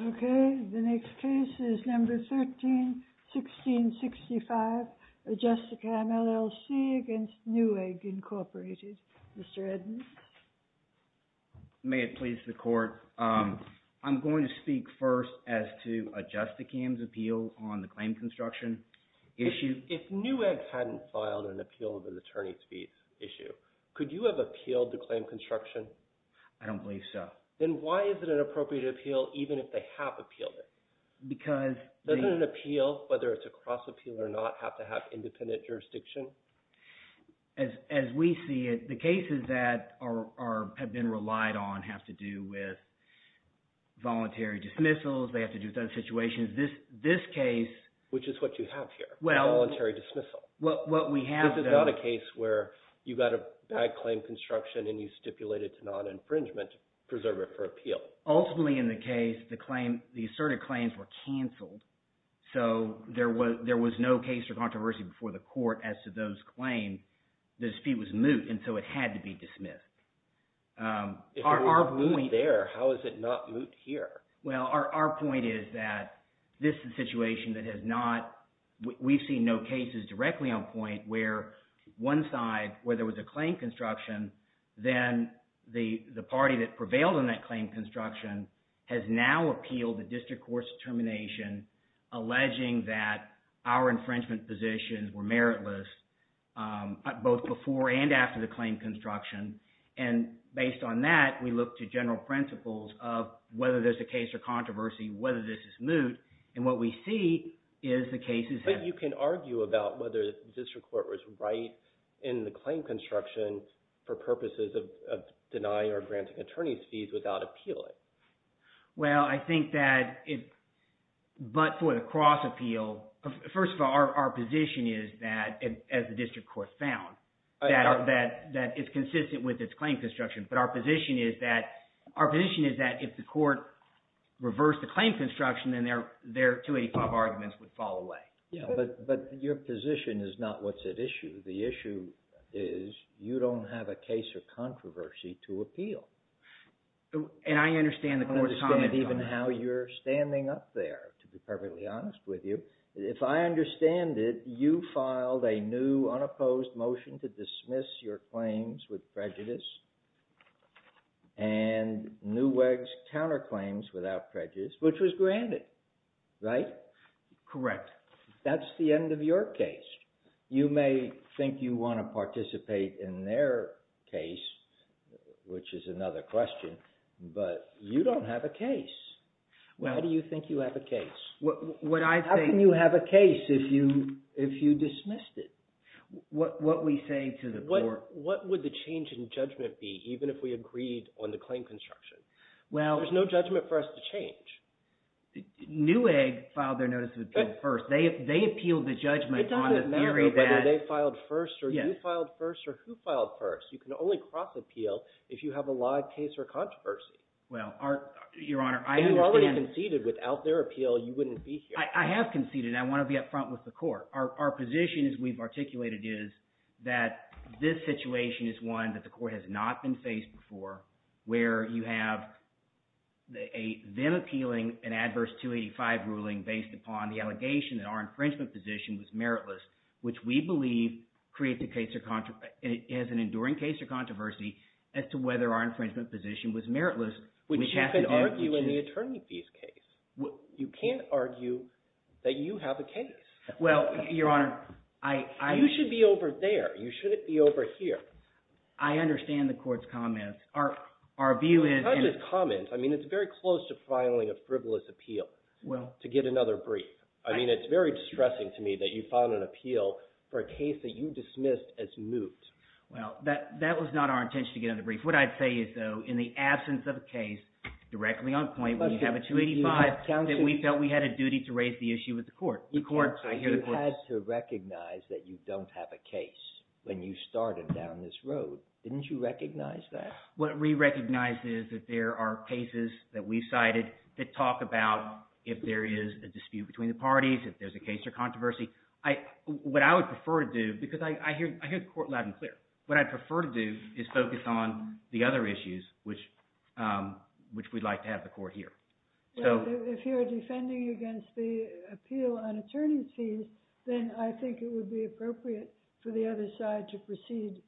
Okay, the next case is number 13-1665, Adjustacam, LLC v. Newegg, Inc., Mr. Edmonds. May it please the Court, I'm going to speak first as to Adjustacam's appeal on the claim construction issue. If Newegg hadn't filed an appeal of an attorney's fees issue, could you have appealed the claim construction? I don't believe so. Then why is it an appropriate appeal even if they have appealed it? Because… Doesn't an appeal, whether it's a cross appeal or not, have to have independent jurisdiction? As we see it, the cases that have been relied on have to do with voluntary dismissals. They have to do with other situations. This case… Which is what you have here, a voluntary dismissal. Well, what we have though… Ultimately, in the case, the asserted claims were canceled, so there was no case for controversy before the court as to those claims. The dispute was moot, and so it had to be dismissed. If it was moot there, how is it not moot here? Well, our point is that this is a situation that has not – we've seen no cases directly on point where one side, where there was a claim construction, then the party that prevailed on that claim construction has now appealed the district court's determination alleging that our infringement positions were meritless both before and after the claim construction. And based on that, we look to general principles of whether there's a case or controversy, whether this is moot, and what we see is the cases have… But you can argue about whether the district court was right in the claim construction for purposes of denying or granting attorney's fees without appealing. Well, I think that it – but for the cross-appeal, first of all, our position is that, as the district court found, that it's consistent with its claim construction. But our position is that if the court reversed the claim construction, then their 285 arguments would fall away. But your position is not what's at issue. The issue is you don't have a case or controversy to appeal. And I understand the court's comments on that. I understand even how you're standing up there, to be perfectly honest with you. If I understand it, you filed a new unopposed motion to dismiss your claims with prejudice and Newegg's counterclaims without prejudice, which was granted, right? Correct. That's the end of your case. You may think you want to participate in their case, which is another question, but you don't have a case. How do you think you have a case? What I think – How can you have a case if you dismissed it? What we say to the court – What would the change in judgment be, even if we agreed on the claim construction? There's no judgment for us to change. Newegg filed their notice of appeal first. They appealed the judgment on the theory that – It doesn't matter whether they filed first or you filed first or who filed first. You can only cross-appeal if you have a live case or controversy. Well, your Honor, I understand – If you already conceded without their appeal, you wouldn't be here. I have conceded, and I want to be up front with the court. Our position, as we've articulated, is that this situation is one that the court has not been faced before, where you have a then-appealing and adverse 285 ruling based upon the allegation that our infringement position was meritless, which we believe creates a case or – has an enduring case or controversy as to whether our infringement position was meritless. Which you can argue in the attorney fees case. You can't argue that you have a case. Well, your Honor, I – You should be over there. You shouldn't be over here. I understand the court's comments. Our view is – It's not just comments. I mean, it's very close to filing a frivolous appeal to get another brief. I mean, it's very distressing to me that you filed an appeal for a case that you dismissed as moot. Well, that was not our intention to get another brief. What I'd say is, though, in the absence of a case directly on point, we have a 285 that we felt we had a duty to raise the issue with the court. You had to recognize that you don't have a case when you started down this road. Didn't you recognize that? What we recognized is that there are cases that we cited that talk about if there is a dispute between the parties, if there's a case or controversy. What I would prefer to do – because I hear the court loud and clear. What I'd prefer to do is focus on the other issues, which we'd like to have the court hear. If you're defending against the appeal on attorney's fees, then I think it would be appropriate for the other side to proceed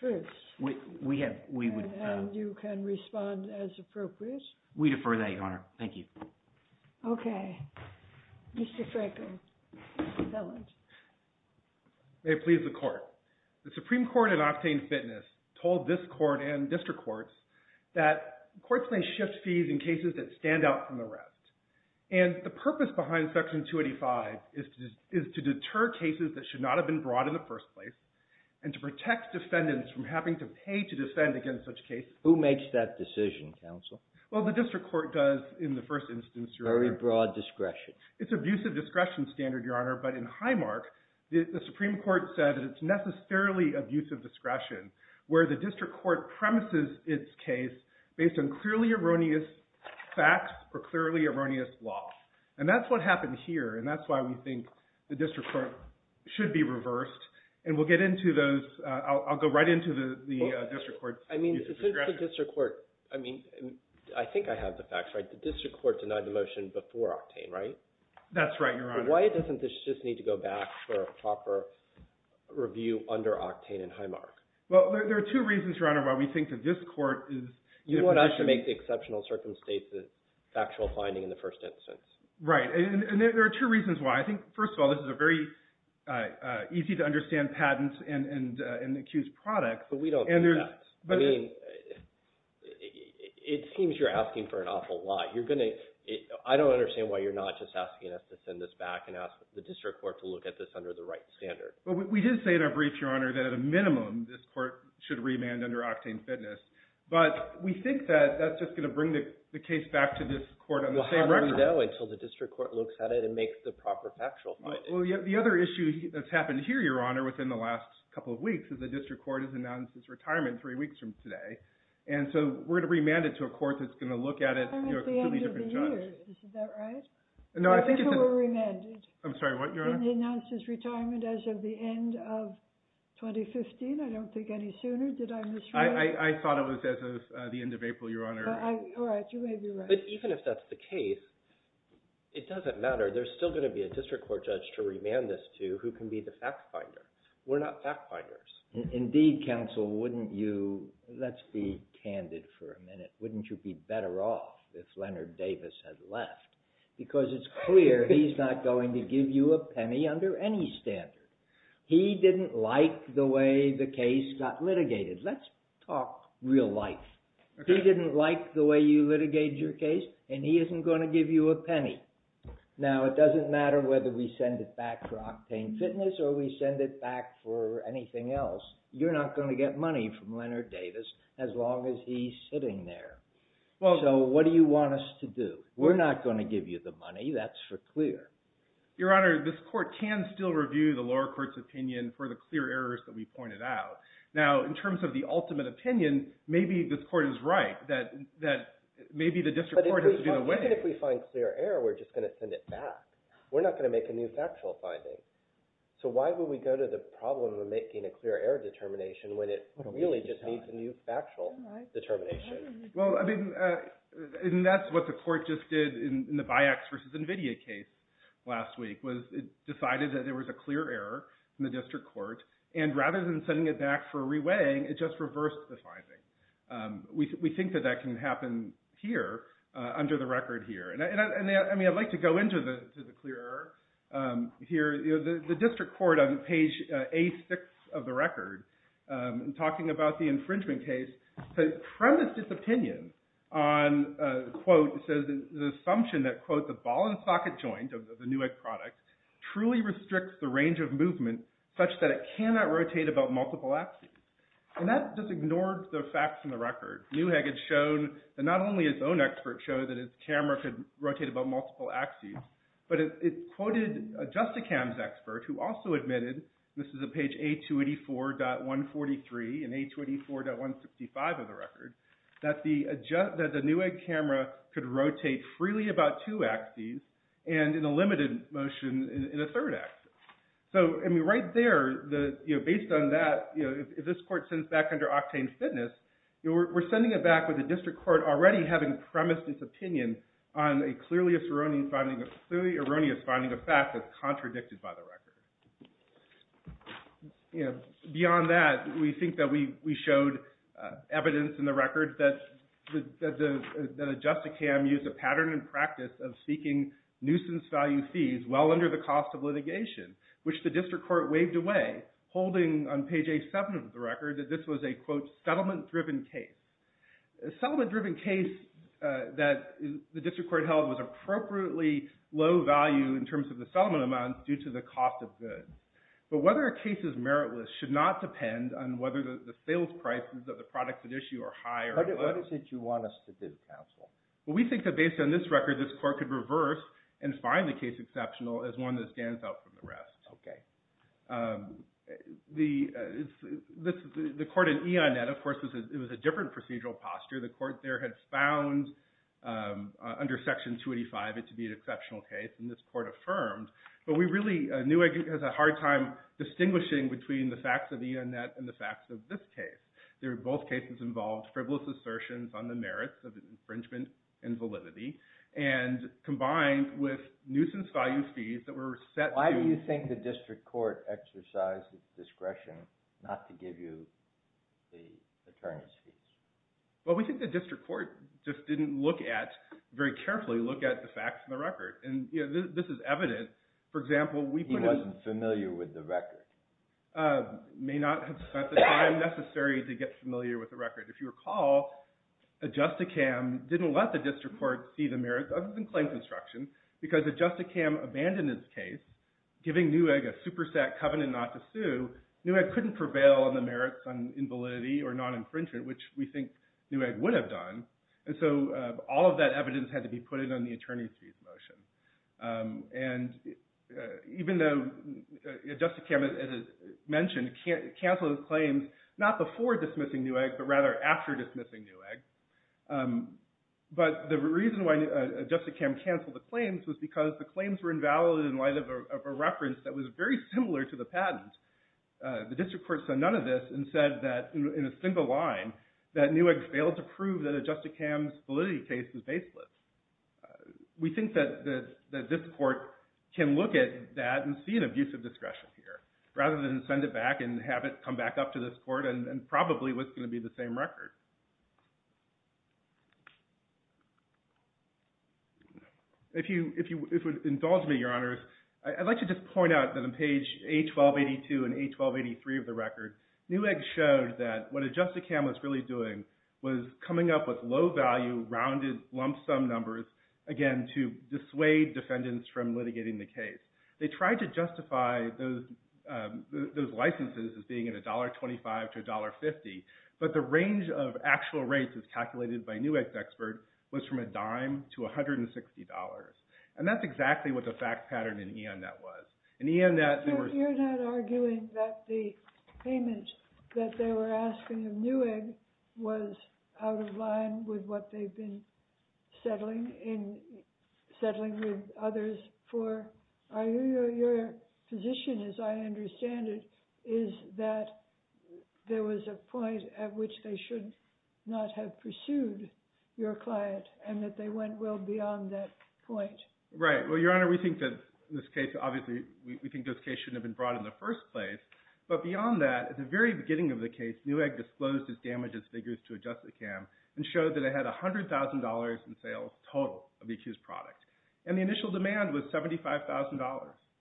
first. We have – we would – And you can respond as appropriate. We defer that, Your Honor. Thank you. Okay. Mr. Frankel. May it please the Court. The Supreme Court in Octane Fitness told this court and district courts that courts may shift fees in cases that stand out from the rest. And the purpose behind Section 285 is to deter cases that should not have been brought in the first place and to protect defendants from having to pay to defend against such cases. Who makes that decision, counsel? Well, the district court does in the first instance, Your Honor. Very broad discretion. It's abusive discretion standard, Your Honor. But in Highmark, the Supreme Court said that it's necessarily abusive discretion where the district court premises its case based on clearly erroneous facts or clearly erroneous law. And that's what happened here, and that's why we think the district court should be reversed. And we'll get into those – I'll go right into the district court's use of discretion. That's right, Your Honor. Why doesn't this just need to go back for a proper review under Octane and Highmark? Well, there are two reasons, Your Honor, why we think that this court is – You want us to make the exceptional circumstances factual finding in the first instance. Right. And there are two reasons why. I think, first of all, this is a very easy to understand patent and accused product. But we don't do that. I mean, it seems you're asking for an awful lot. You're going to – I don't understand why you're not just asking us to send this back and ask the district court to look at this under the right standard. Well, we did say in our brief, Your Honor, that at a minimum this court should remand under Octane Fitness. But we think that that's just going to bring the case back to this court on the same record. Well, how do we know until the district court looks at it and makes the proper factual finding? Well, the other issue that's happened here, Your Honor, within the last couple of weeks is the district court has announced its retirement three weeks from today. And so we're going to remand it to a court that's going to look at it. I mean, at the end of the year. Is that right? No, I think it's – Before we're remanded. I'm sorry, what, Your Honor? And they announced its retirement as of the end of 2015. I don't think any sooner. Did I misread it? I thought it was as of the end of April, Your Honor. All right. You may be right. But even if that's the case, it doesn't matter. There's still going to be a district court judge to remand this to who can be the fact finder. We're not fact finders. Indeed, counsel, wouldn't you – let's be candid for a minute. Wouldn't you be better off if Leonard Davis had left? Because it's clear he's not going to give you a penny under any standard. He didn't like the way the case got litigated. Let's talk real life. He didn't like the way you litigated your case, and he isn't going to give you a penny. Now, it doesn't matter whether we send it back for Octane Fitness or we send it back for anything else. You're not going to get money from Leonard Davis as long as he's sitting there. So what do you want us to do? We're not going to give you the money. That's for clear. Your Honor, this court can still review the lower court's opinion for the clear errors that we pointed out. Now, in terms of the ultimate opinion, maybe this court is right that maybe the district court has to do the winning. Even if we find clear error, we're just going to send it back. We're not going to make a new factual finding. So why would we go to the problem of making a clear error determination when it really just needs a new factual determination? Well, I mean, and that's what the court just did in the BIAX v. NVIDIA case last week, was it decided that there was a clear error in the district court, and rather than sending it back for reweighing, it just reversed the finding. We think that that can happen here, under the record here. I mean, I'd like to go into the clear error here. The district court on page A6 of the record, talking about the infringement case, premised its opinion on, quote, it says, the assumption that, quote, the ball and socket joint of the Newegg product truly restricts the range of movement such that it cannot rotate about multiple axes. And that just ignored the facts in the record. Newegg had shown that not only its own experts showed that its camera could rotate about multiple axes, but it quoted a Justicam's expert who also admitted, and this is on page A284.143 and A284.165 of the record, that the Newegg camera could rotate freely about two axes and in a limited motion in a third axis. So, I mean, right there, based on that, if this court sends back under octane fitness, we're sending it back with the district court already having premised its opinion on a clearly erroneous finding, a fact that's contradicted by the record. Beyond that, we think that we showed evidence in the record that a Justicam used a pattern and practice of seeking nuisance value fees well under the cost of litigation, which the district court waved away, holding on page A7 of the record that this was a, quote, settlement-driven case. A settlement-driven case that the district court held was appropriately low value in terms of the settlement amounts due to the cost of goods. But whether a case is meritless should not depend on whether the sales prices of the product at issue are high or low. What is it you want us to do, counsel? Well, we think that based on this record, this court could reverse and find the case exceptional as one that stands out from the rest. Okay. The court in E.I. Nett, of course, it was a different procedural posture. The court there had found under Section 285 it to be an exceptional case, and this court affirmed. But we really, Newegg has a hard time distinguishing between the facts of E.I. Nett and the facts of this case. They're both cases involved frivolous assertions on the merits of infringement and validity, and combined with nuisance value fees that were set to- Why do you think the district court exercised discretion not to give you the attorney's fees? Well, we think the district court just didn't look at, very carefully look at the facts in the record. And this is evident. For example, we put in- He wasn't familiar with the record. He may not have spent the time necessary to get familiar with the record. If you recall, Adjusticam didn't let the district court see the merits of the claim construction because Adjusticam abandoned his case, giving Newegg a superset covenant not to sue. Newegg couldn't prevail on the merits on invalidity or non-infringement, which we think Newegg would have done. And so all of that evidence had to be put in on the attorney's fees motion. And even though Adjusticam, as is mentioned, canceled the claims not before dismissing Newegg, but rather after dismissing Newegg. But the reason why Adjusticam canceled the claims was because the claims were invalid in light of a reference that was very similar to the patent. The district court said none of this and said that in a single line, that Newegg failed to prove that Adjusticam's validity case was baseless. We think that this court can look at that and see an abuse of discretion here rather than send it back and have it come back up to this court and probably it was going to be the same record. If you would indulge me, Your Honors, I'd like to just point out that on page A1282 and A1283 of the record, Newegg showed that what Adjusticam was really doing was coming up with low-value, rounded lump-sum numbers, again, to dissuade defendants from litigating the case. They tried to justify those licenses as being at $1.25 to $1.50, but the range of actual rates as calculated by Newegg's expert was from a dime to $160. And that's exactly what the fact pattern in E.N. that was. You're not arguing that the payment that they were asking of Newegg was out of line with what they've been settling with others for. Your position, as I understand it, is that there was a point at which they should not have pursued your client and that they went well beyond that point. Right. Well, Your Honor, we think that in this case, obviously we think this case shouldn't have been brought in the first place. But beyond that, at the very beginning of the case, Newegg disclosed its damages figures to Adjusticam and showed that it had $100,000 in sales total of the accused product. And the initial demand was $75,000.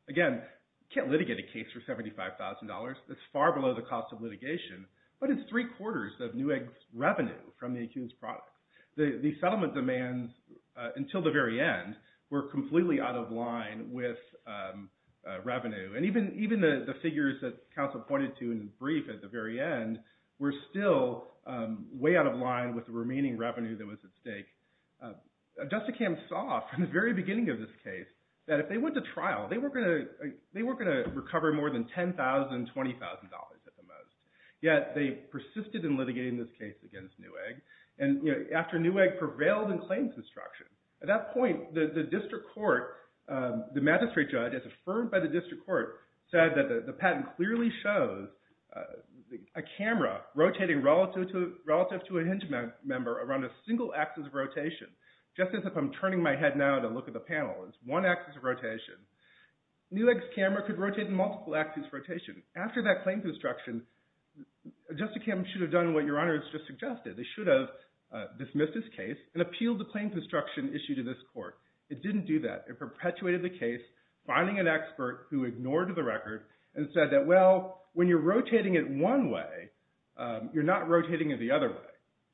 Again, you can't litigate a case for $75,000. That's far below the cost of litigation, but it's three-quarters of Newegg's revenue from the accused product. The settlement demands, until the very end, were completely out of line with revenue. And even the figures that counsel pointed to in the brief at the very end were still way out of line with the remaining revenue that was at stake. Adjusticam saw from the very beginning of this case that if they went to trial, they weren't going to recover more than $10,000, $20,000 at the most. Yet they persisted in litigating this case against Newegg. And after Newegg prevailed in claims instruction, at that point, the district court, the magistrate judge, as affirmed by the district court, said that the patent clearly shows a camera rotating relative to a hinged member around a single axis of rotation. Just as if I'm turning my head now to look at the panel, it's one axis of rotation. Newegg's camera could rotate in multiple axis of rotation. After that claims instruction, Adjusticam should have done what your Honor has just suggested. They should have dismissed this case and appealed the claims instruction issued to this court. It didn't do that. It perpetuated the case, finding an expert who ignored the record and said that, well, when you're rotating it one way, you're not rotating it the other way.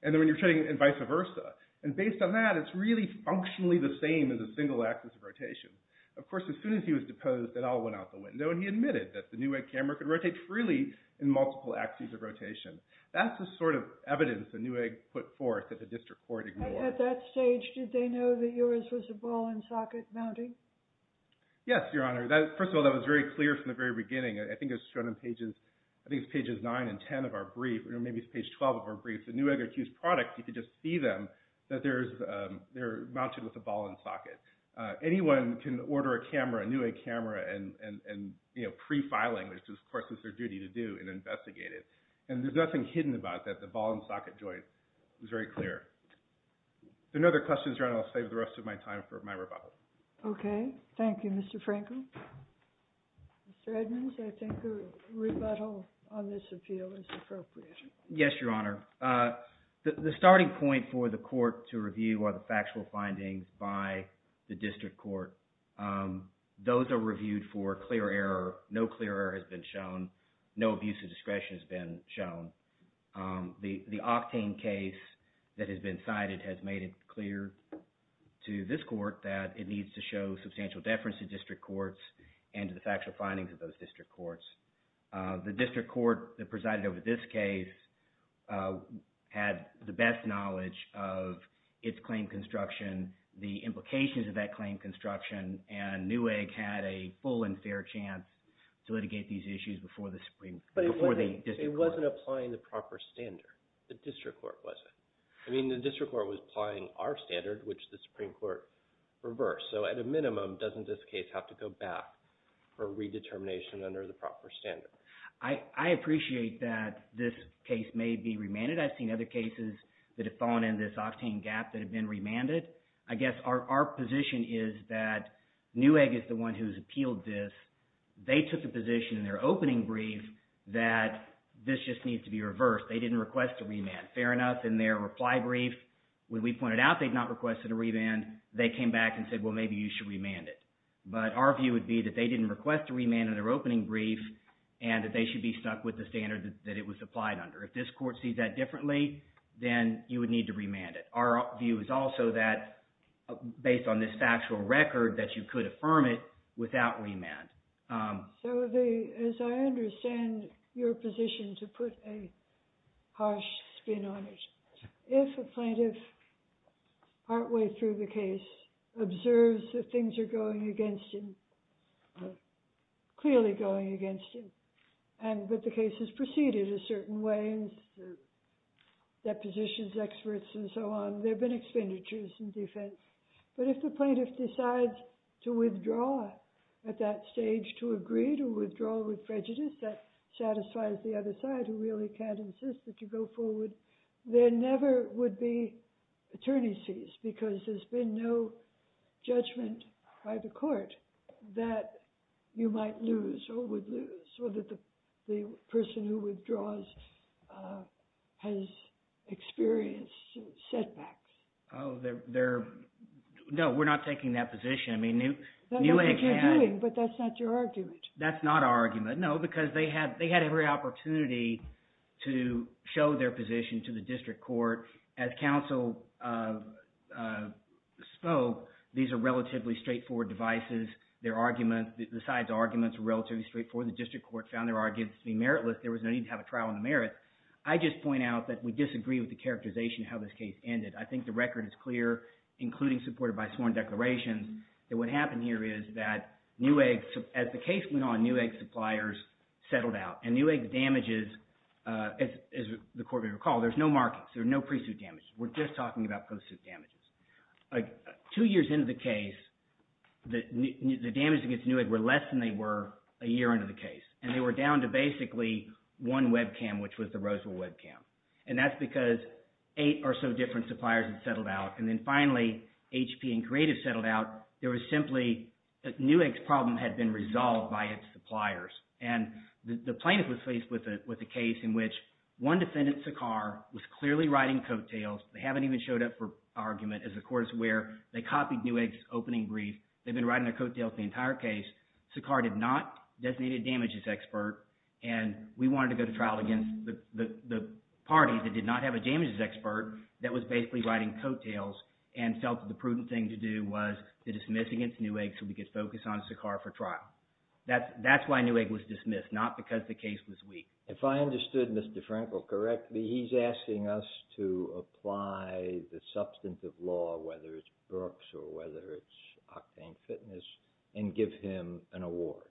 And then when you're turning it, and vice versa. And based on that, it's really functionally the same as a single axis of rotation. Of course, as soon as he was deposed, it all went out the window. And he admitted that the Newegg camera could rotate freely in multiple axis of rotation. That's the sort of evidence that Newegg put forth that the district court ignored. At that stage, did they know that yours was a ball-and-socket mounting? Yes, Your Honor. First of all, that was very clear from the very beginning. I think it was shown on pages 9 and 10 of our brief, or maybe it's page 12 of our brief. The Newegg accused products, you could just see them, that they're mounted with a ball-and-socket. Anyone can order a Newegg camera and pre-filing, which of course is their duty to do, and investigate it. And there's nothing hidden about that, the ball-and-socket joint. It was very clear. If there are no other questions, Your Honor, I'll save the rest of my time for my rebuttal. Okay. Thank you, Mr. Frankel. Mr. Edmonds, I think a rebuttal on this appeal is appropriate. Yes, Your Honor. The starting point for the court to review are the factual findings by the district court. Those are reviewed for clear error. No clear error has been shown. No abuse of discretion has been shown. The Octane case that has been cited has made it clear to this court that it needs to show substantial deference to district courts and to the factual findings of those district courts. The district court that presided over this case had the best knowledge of its claim construction, the implications of that claim construction, and Newegg had a full and fair chance to litigate these issues before the district court. But it wasn't applying the proper standard. The district court wasn't. I mean, the district court was applying our standard, which the Supreme Court reversed. So at a minimum, doesn't this case have to go back for redetermination under the proper standard? I appreciate that this case may be remanded. I think that I've seen other cases that have fallen in this Octane gap that have been remanded. I guess our position is that Newegg is the one who's appealed this. They took the position in their opening brief that this just needs to be reversed. They didn't request a remand. Fair enough. In their reply brief, when we pointed out they'd not requested a remand, they came back and said, well, maybe you should remand it. But our view would be that they didn't request a remand in their opening brief and that they should be stuck with the standard that it was applied under. If this court sees that differently, then you would need to remand it. Our view is also that, based on this factual record, that you could affirm it without remand. So as I understand your position to put a harsh spin on it, if a plaintiff partway through the case observes that things are going against him, clearly going against him, but the case has proceeded a certain way, and the deposition experts and so on, there have been expenditures in defense. But if the plaintiff decides to withdraw at that stage, to agree to withdraw with prejudice, that satisfies the other side who really can't insist that you go forward, there never would be attorney's fees because there's been no judgment by the court that you might lose or would lose, or that the person who withdraws has experienced setbacks. Oh, no, we're not taking that position. That's what you're doing, but that's not your argument. That's not our argument, no, because they had every opportunity to show their position to the district court. As counsel spoke, these are relatively straightforward devices. Their arguments, the side's arguments were relatively straightforward. The district court found their arguments to be meritless. There was no need to have a trial on the merits. I just point out that we disagree with the characterization of how this case ended. I think the record is clear, including supported by sworn declarations, that what happened here is that New Egg, as the case went on, New Egg suppliers settled out, and New Egg's damages, as the court may recall, there's no markings. There's no pre-suit damages. We're just talking about post-suit damages. Two years into the case, the damages against New Egg were less than they were a year into the case, and they were down to basically one webcam, which was the Roseville webcam, and that's because eight or so different suppliers had settled out, and then finally HP and Creative settled out. There was simply – New Egg's problem had been resolved by its suppliers, and the plaintiff was faced with a case in which one defendant, Sakhar, was clearly riding coattails. They haven't even showed up for argument. As the court is aware, they copied New Egg's opening brief. They've been riding their coattails the entire case. Sakhar did not designate a damages expert, and we wanted to go to trial against the party that did not have a damages expert that was basically riding coattails and felt that the prudent thing to do was to dismiss against New Egg so we could focus on Sakhar for trial. That's why New Egg was dismissed, not because the case was weak. If I understood Mr. Frankel correctly, he's asking us to apply the substantive law, whether it's Brooks or whether it's Octane Fitness, and give him an award.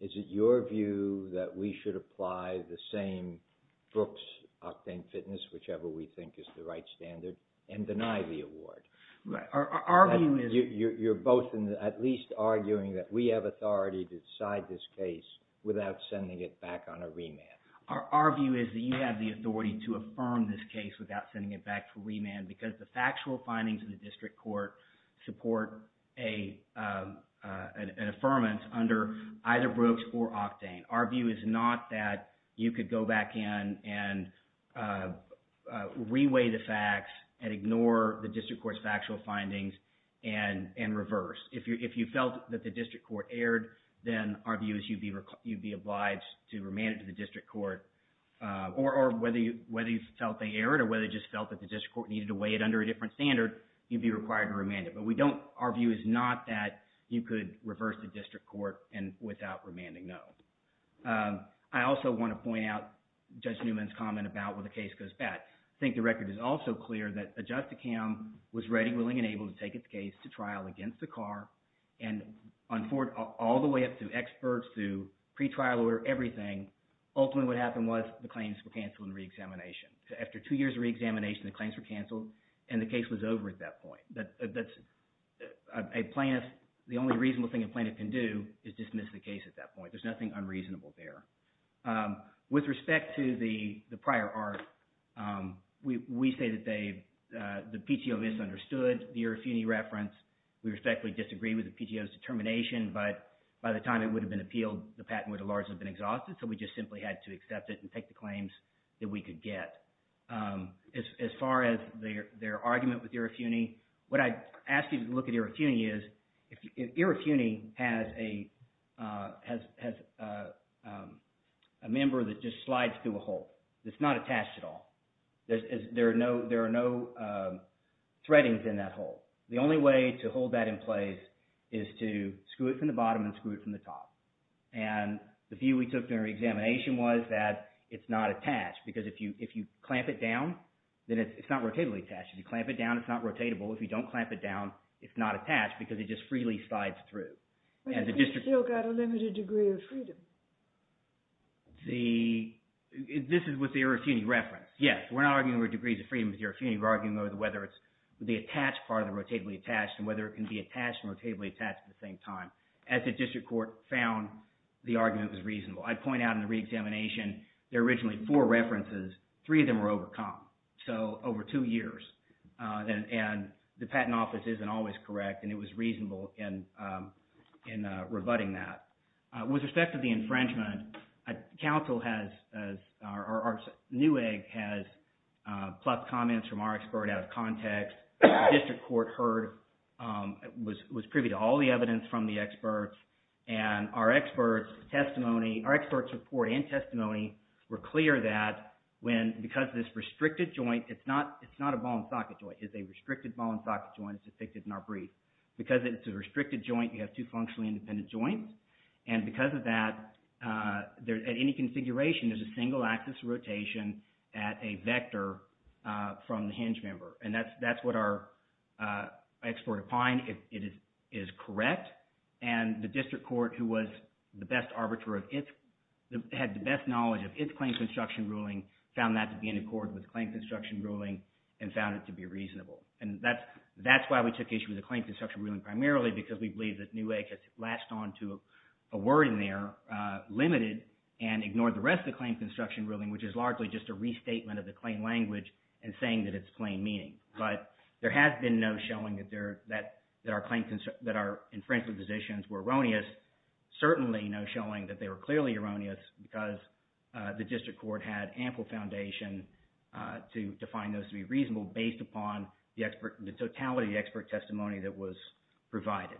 Is it your view that we should apply the same Brooks, Octane Fitness, whichever we think is the right standard, and deny the award? You're both at least arguing that we have authority to decide this case without sending it back on a remand. Our view is that you have the authority to affirm this case without sending it back to remand because the factual findings of the district court support an affirmance under either Brooks or Octane. Our view is not that you could go back in and reweigh the facts and ignore the district court's factual findings and reverse. If you felt that the district court erred, then our view is you'd be obliged to remand it to the district court, or whether you felt they erred or whether you just felt that the district court needed to weigh it under a different standard, you'd be required to remand it. But we don't – our view is not that you could reverse the district court without remanding, no. I also want to point out Judge Newman's comment about when the case goes back. I think the record is also clear that a justicam was ready, willing, and able to take its case to trial against Sakhar. And on – all the way up to experts, to pretrial order, everything, ultimately what happened was the claims were canceled in reexamination. So after two years of reexamination, the claims were canceled, and the case was over at that point. That's a plaintiff – the only reasonable thing a plaintiff can do is dismiss the case at that point. There's nothing unreasonable there. With respect to the prior art, we say that they – the PTO misunderstood the Irrafuni reference. We respectfully disagree with the PTO's determination, but by the time it would have been appealed, the patent would have largely been exhausted. So we just simply had to accept it and take the claims that we could get. As far as their argument with Irrafuni, what I'd ask you to look at Irrafuni is if Irrafuni has a member that just slides through a hole that's not attached at all. There are no threadings in that hole. The only way to hold that in place is to screw it from the bottom and screw it from the top. And the view we took during reexamination was that it's not attached because if you clamp it down, then it's not rotatably attached. If you clamp it down, it's not rotatable. If you don't clamp it down, it's not attached because it just freely slides through. But the case still got a limited degree of freedom. The – this is with the Irrafuni reference. Yes, we're not arguing over degrees of freedom with Irrafuni. We're arguing over whether it's the attached part of the rotatably attached and whether it can be attached and rotatably attached at the same time. As the district court found, the argument was reasonable. I'd point out in the reexamination, there are originally four references. Three of them were overcome, so over two years. And the Patent Office isn't always correct, and it was reasonable in rebutting that. With respect to the infringement, counsel has – or our new egg has plucked comments from our expert out of context. The district court heard – was privy to all the evidence from the experts. And our experts' testimony – our experts' report and testimony were clear that when – because this restricted joint, it's not a ball-and-socket joint. It's a restricted ball-and-socket joint as depicted in our brief. Because it's a restricted joint, you have two functionally independent joints. And because of that, at any configuration, there's a single axis rotation at a vector from the hinge member. And that's what our expert opined. It is correct. And the district court, who was the best arbiter of its – had the best knowledge of its claim construction ruling, found that to be in accord with the claim construction ruling and found it to be reasonable. And that's why we took issue with the claim construction ruling primarily, because we believe that new egg has latched on to a word in there, limited, and ignored the rest of the claim construction ruling, which is largely just a restatement of the claim language and saying that it's plain meaning. But there has been no showing that there – that our claims – that our infringement positions were erroneous. Certainly no showing that they were clearly erroneous because the district court had ample foundation to define those to be reasonable based upon the expert – the totality of the expert testimony that was provided.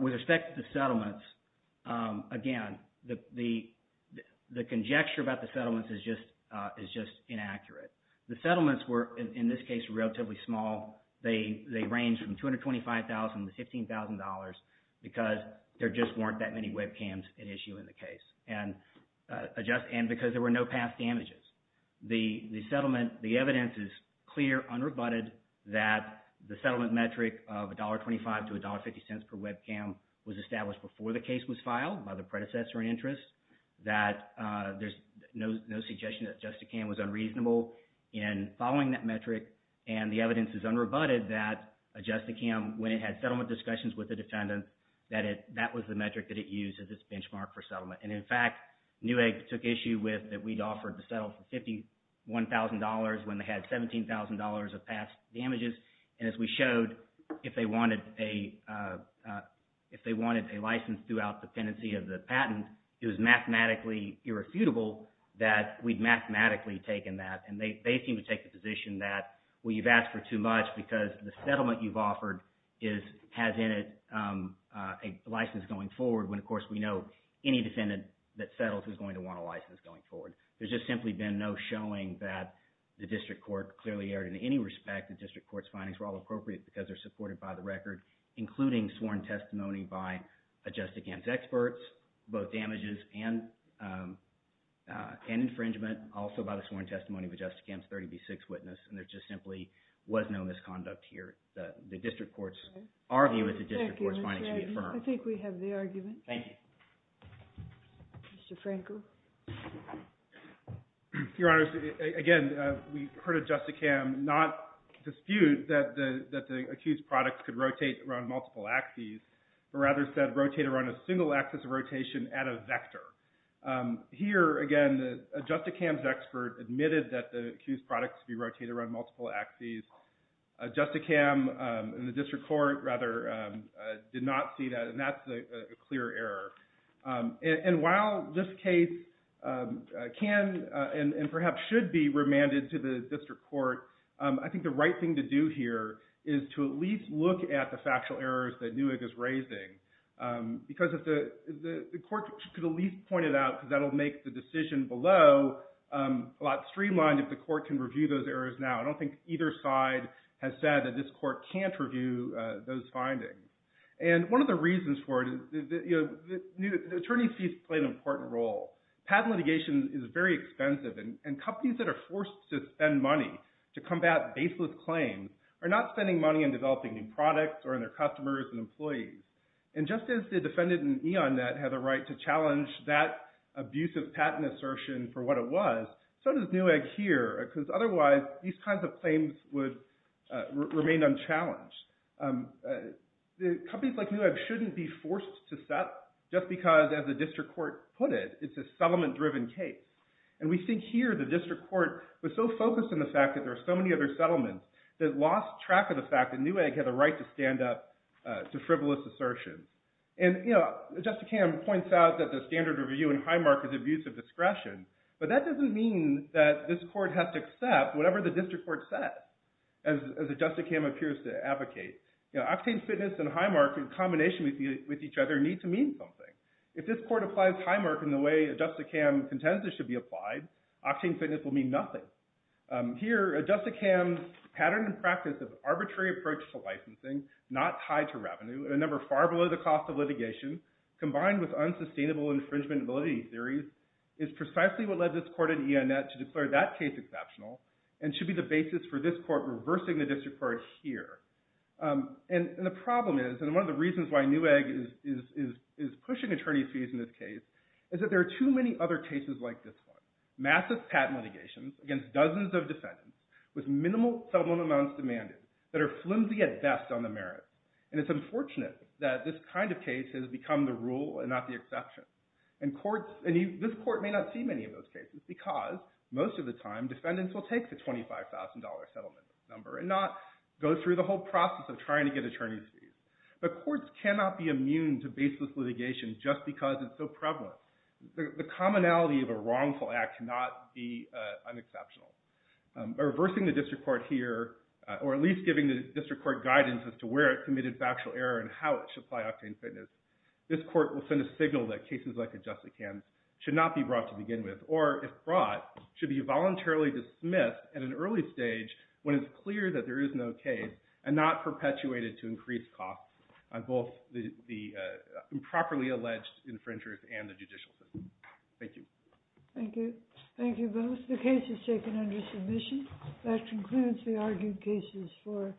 With respect to the settlements, again, the conjecture about the settlements is just inaccurate. The settlements were, in this case, relatively small. They ranged from $225,000 to $15,000 because there just weren't that many webcams at issue in the case, and because there were no past damages. The settlement – the evidence is clear, unrebutted, that the settlement metric of $1.25 to $1.50 per webcam was established before the case was filed by the predecessor in interest, that there's no suggestion that adjust-a-cam was unreasonable in following that metric. And the evidence is unrebutted that adjust-a-cam, when it had settlement discussions with the defendant, that it – that was the metric that it used as its benchmark for settlement. And in fact, Newegg took issue with that we'd offered to settle for $51,000 when they had $17,000 of past damages. And as we showed, if they wanted a license throughout the pendency of the patent, it was mathematically irrefutable that we'd mathematically taken that. And they seem to take the position that, well, you've asked for too much because the settlement you've offered is – has in it a license going forward when, of course, we know any defendant that settles is going to want a license going forward. There's just simply been no showing that the district court clearly erred in any respect. And district court's findings were all appropriate because they're supported by the record, including sworn testimony by adjust-a-cam's experts, both damages and infringement, also by the sworn testimony of adjust-a-cam's 30B6 witness. And there just simply was no misconduct here. The district court's – our view is the district court's findings should be affirmed. I think we have the argument. Thank you. Mr. Frankel. Your Honors, again, we heard adjust-a-cam not dispute that the accused products could rotate around multiple axes, but rather said rotate around a single axis of rotation at a vector. Here, again, adjust-a-cam's expert admitted that the accused products could be rotated around multiple axes. Adjust-a-cam and the district court, rather, did not see that, and that's a clear error. And while this case can and perhaps should be remanded to the district court, I think the right thing to do here is to at least look at the factual errors that Newick is raising. Because the court could at least point it out because that will make the decision below a lot streamlined if the court can review those errors now. I don't think either side has said that this court can't review those findings. And one of the reasons for it is the attorney's fees play an important role. Patent litigation is very expensive, and companies that are forced to spend money to combat baseless claims are not spending money on developing new products or on their customers and employees. And just as the defendant in E.on.Net had the right to challenge that abusive patent assertion for what it was, so does Newick here because otherwise these kinds of claims would remain unchallenged. Companies like Newick shouldn't be forced to settle just because, as the district court put it, it's a settlement-driven case. And we think here the district court was so focused on the fact that there are so many other settlements that it lost track of the fact that Newick had the right to stand up to frivolous assertions. And Justicam points out that the standard review in Highmark is abusive discretion, but that doesn't mean that this court has to accept whatever the district court says, as Justicam appears to advocate. Octane Fitness and Highmark, in combination with each other, need to mean something. If this court applies Highmark in the way Justicam contends it should be applied, Octane Fitness will mean nothing. Here, Justicam's pattern and practice of arbitrary approach to licensing, not tied to revenue, and a number far below the cost of litigation, combined with unsustainable infringement and validity theories, is precisely what led this court in E.on.Net to declare that case exceptional and should be the basis for this court reversing the district court here. And the problem is, and one of the reasons why Newick is pushing attorney fees in this case, is that there are too many other cases like this one. Massive patent litigations against dozens of defendants with minimal settlement amounts demanded that are flimsy at best on the merits. And it's unfortunate that this kind of case has become the rule and not the exception. This court may not see many of those cases because, most of the time, defendants will take the $25,000 settlement number and not go through the whole process of trying to get attorney fees. But courts cannot be immune to baseless litigation just because it's so prevalent. The commonality of a wrongful act cannot be unexceptional. By reversing the district court here, or at least giving the district court guidance as to where it committed factual error and how it should apply Octane Fitness, this court will send a signal that cases like the Justicans should not be brought to begin with, or, if brought, should be voluntarily dismissed at an early stage when it's clear that there is no case and not perpetuated to increase costs on both the improperly alleged infringers and the judicial system. Thank you. Thank you. Thank you both. The case is taken under submission. That concludes the argued cases for...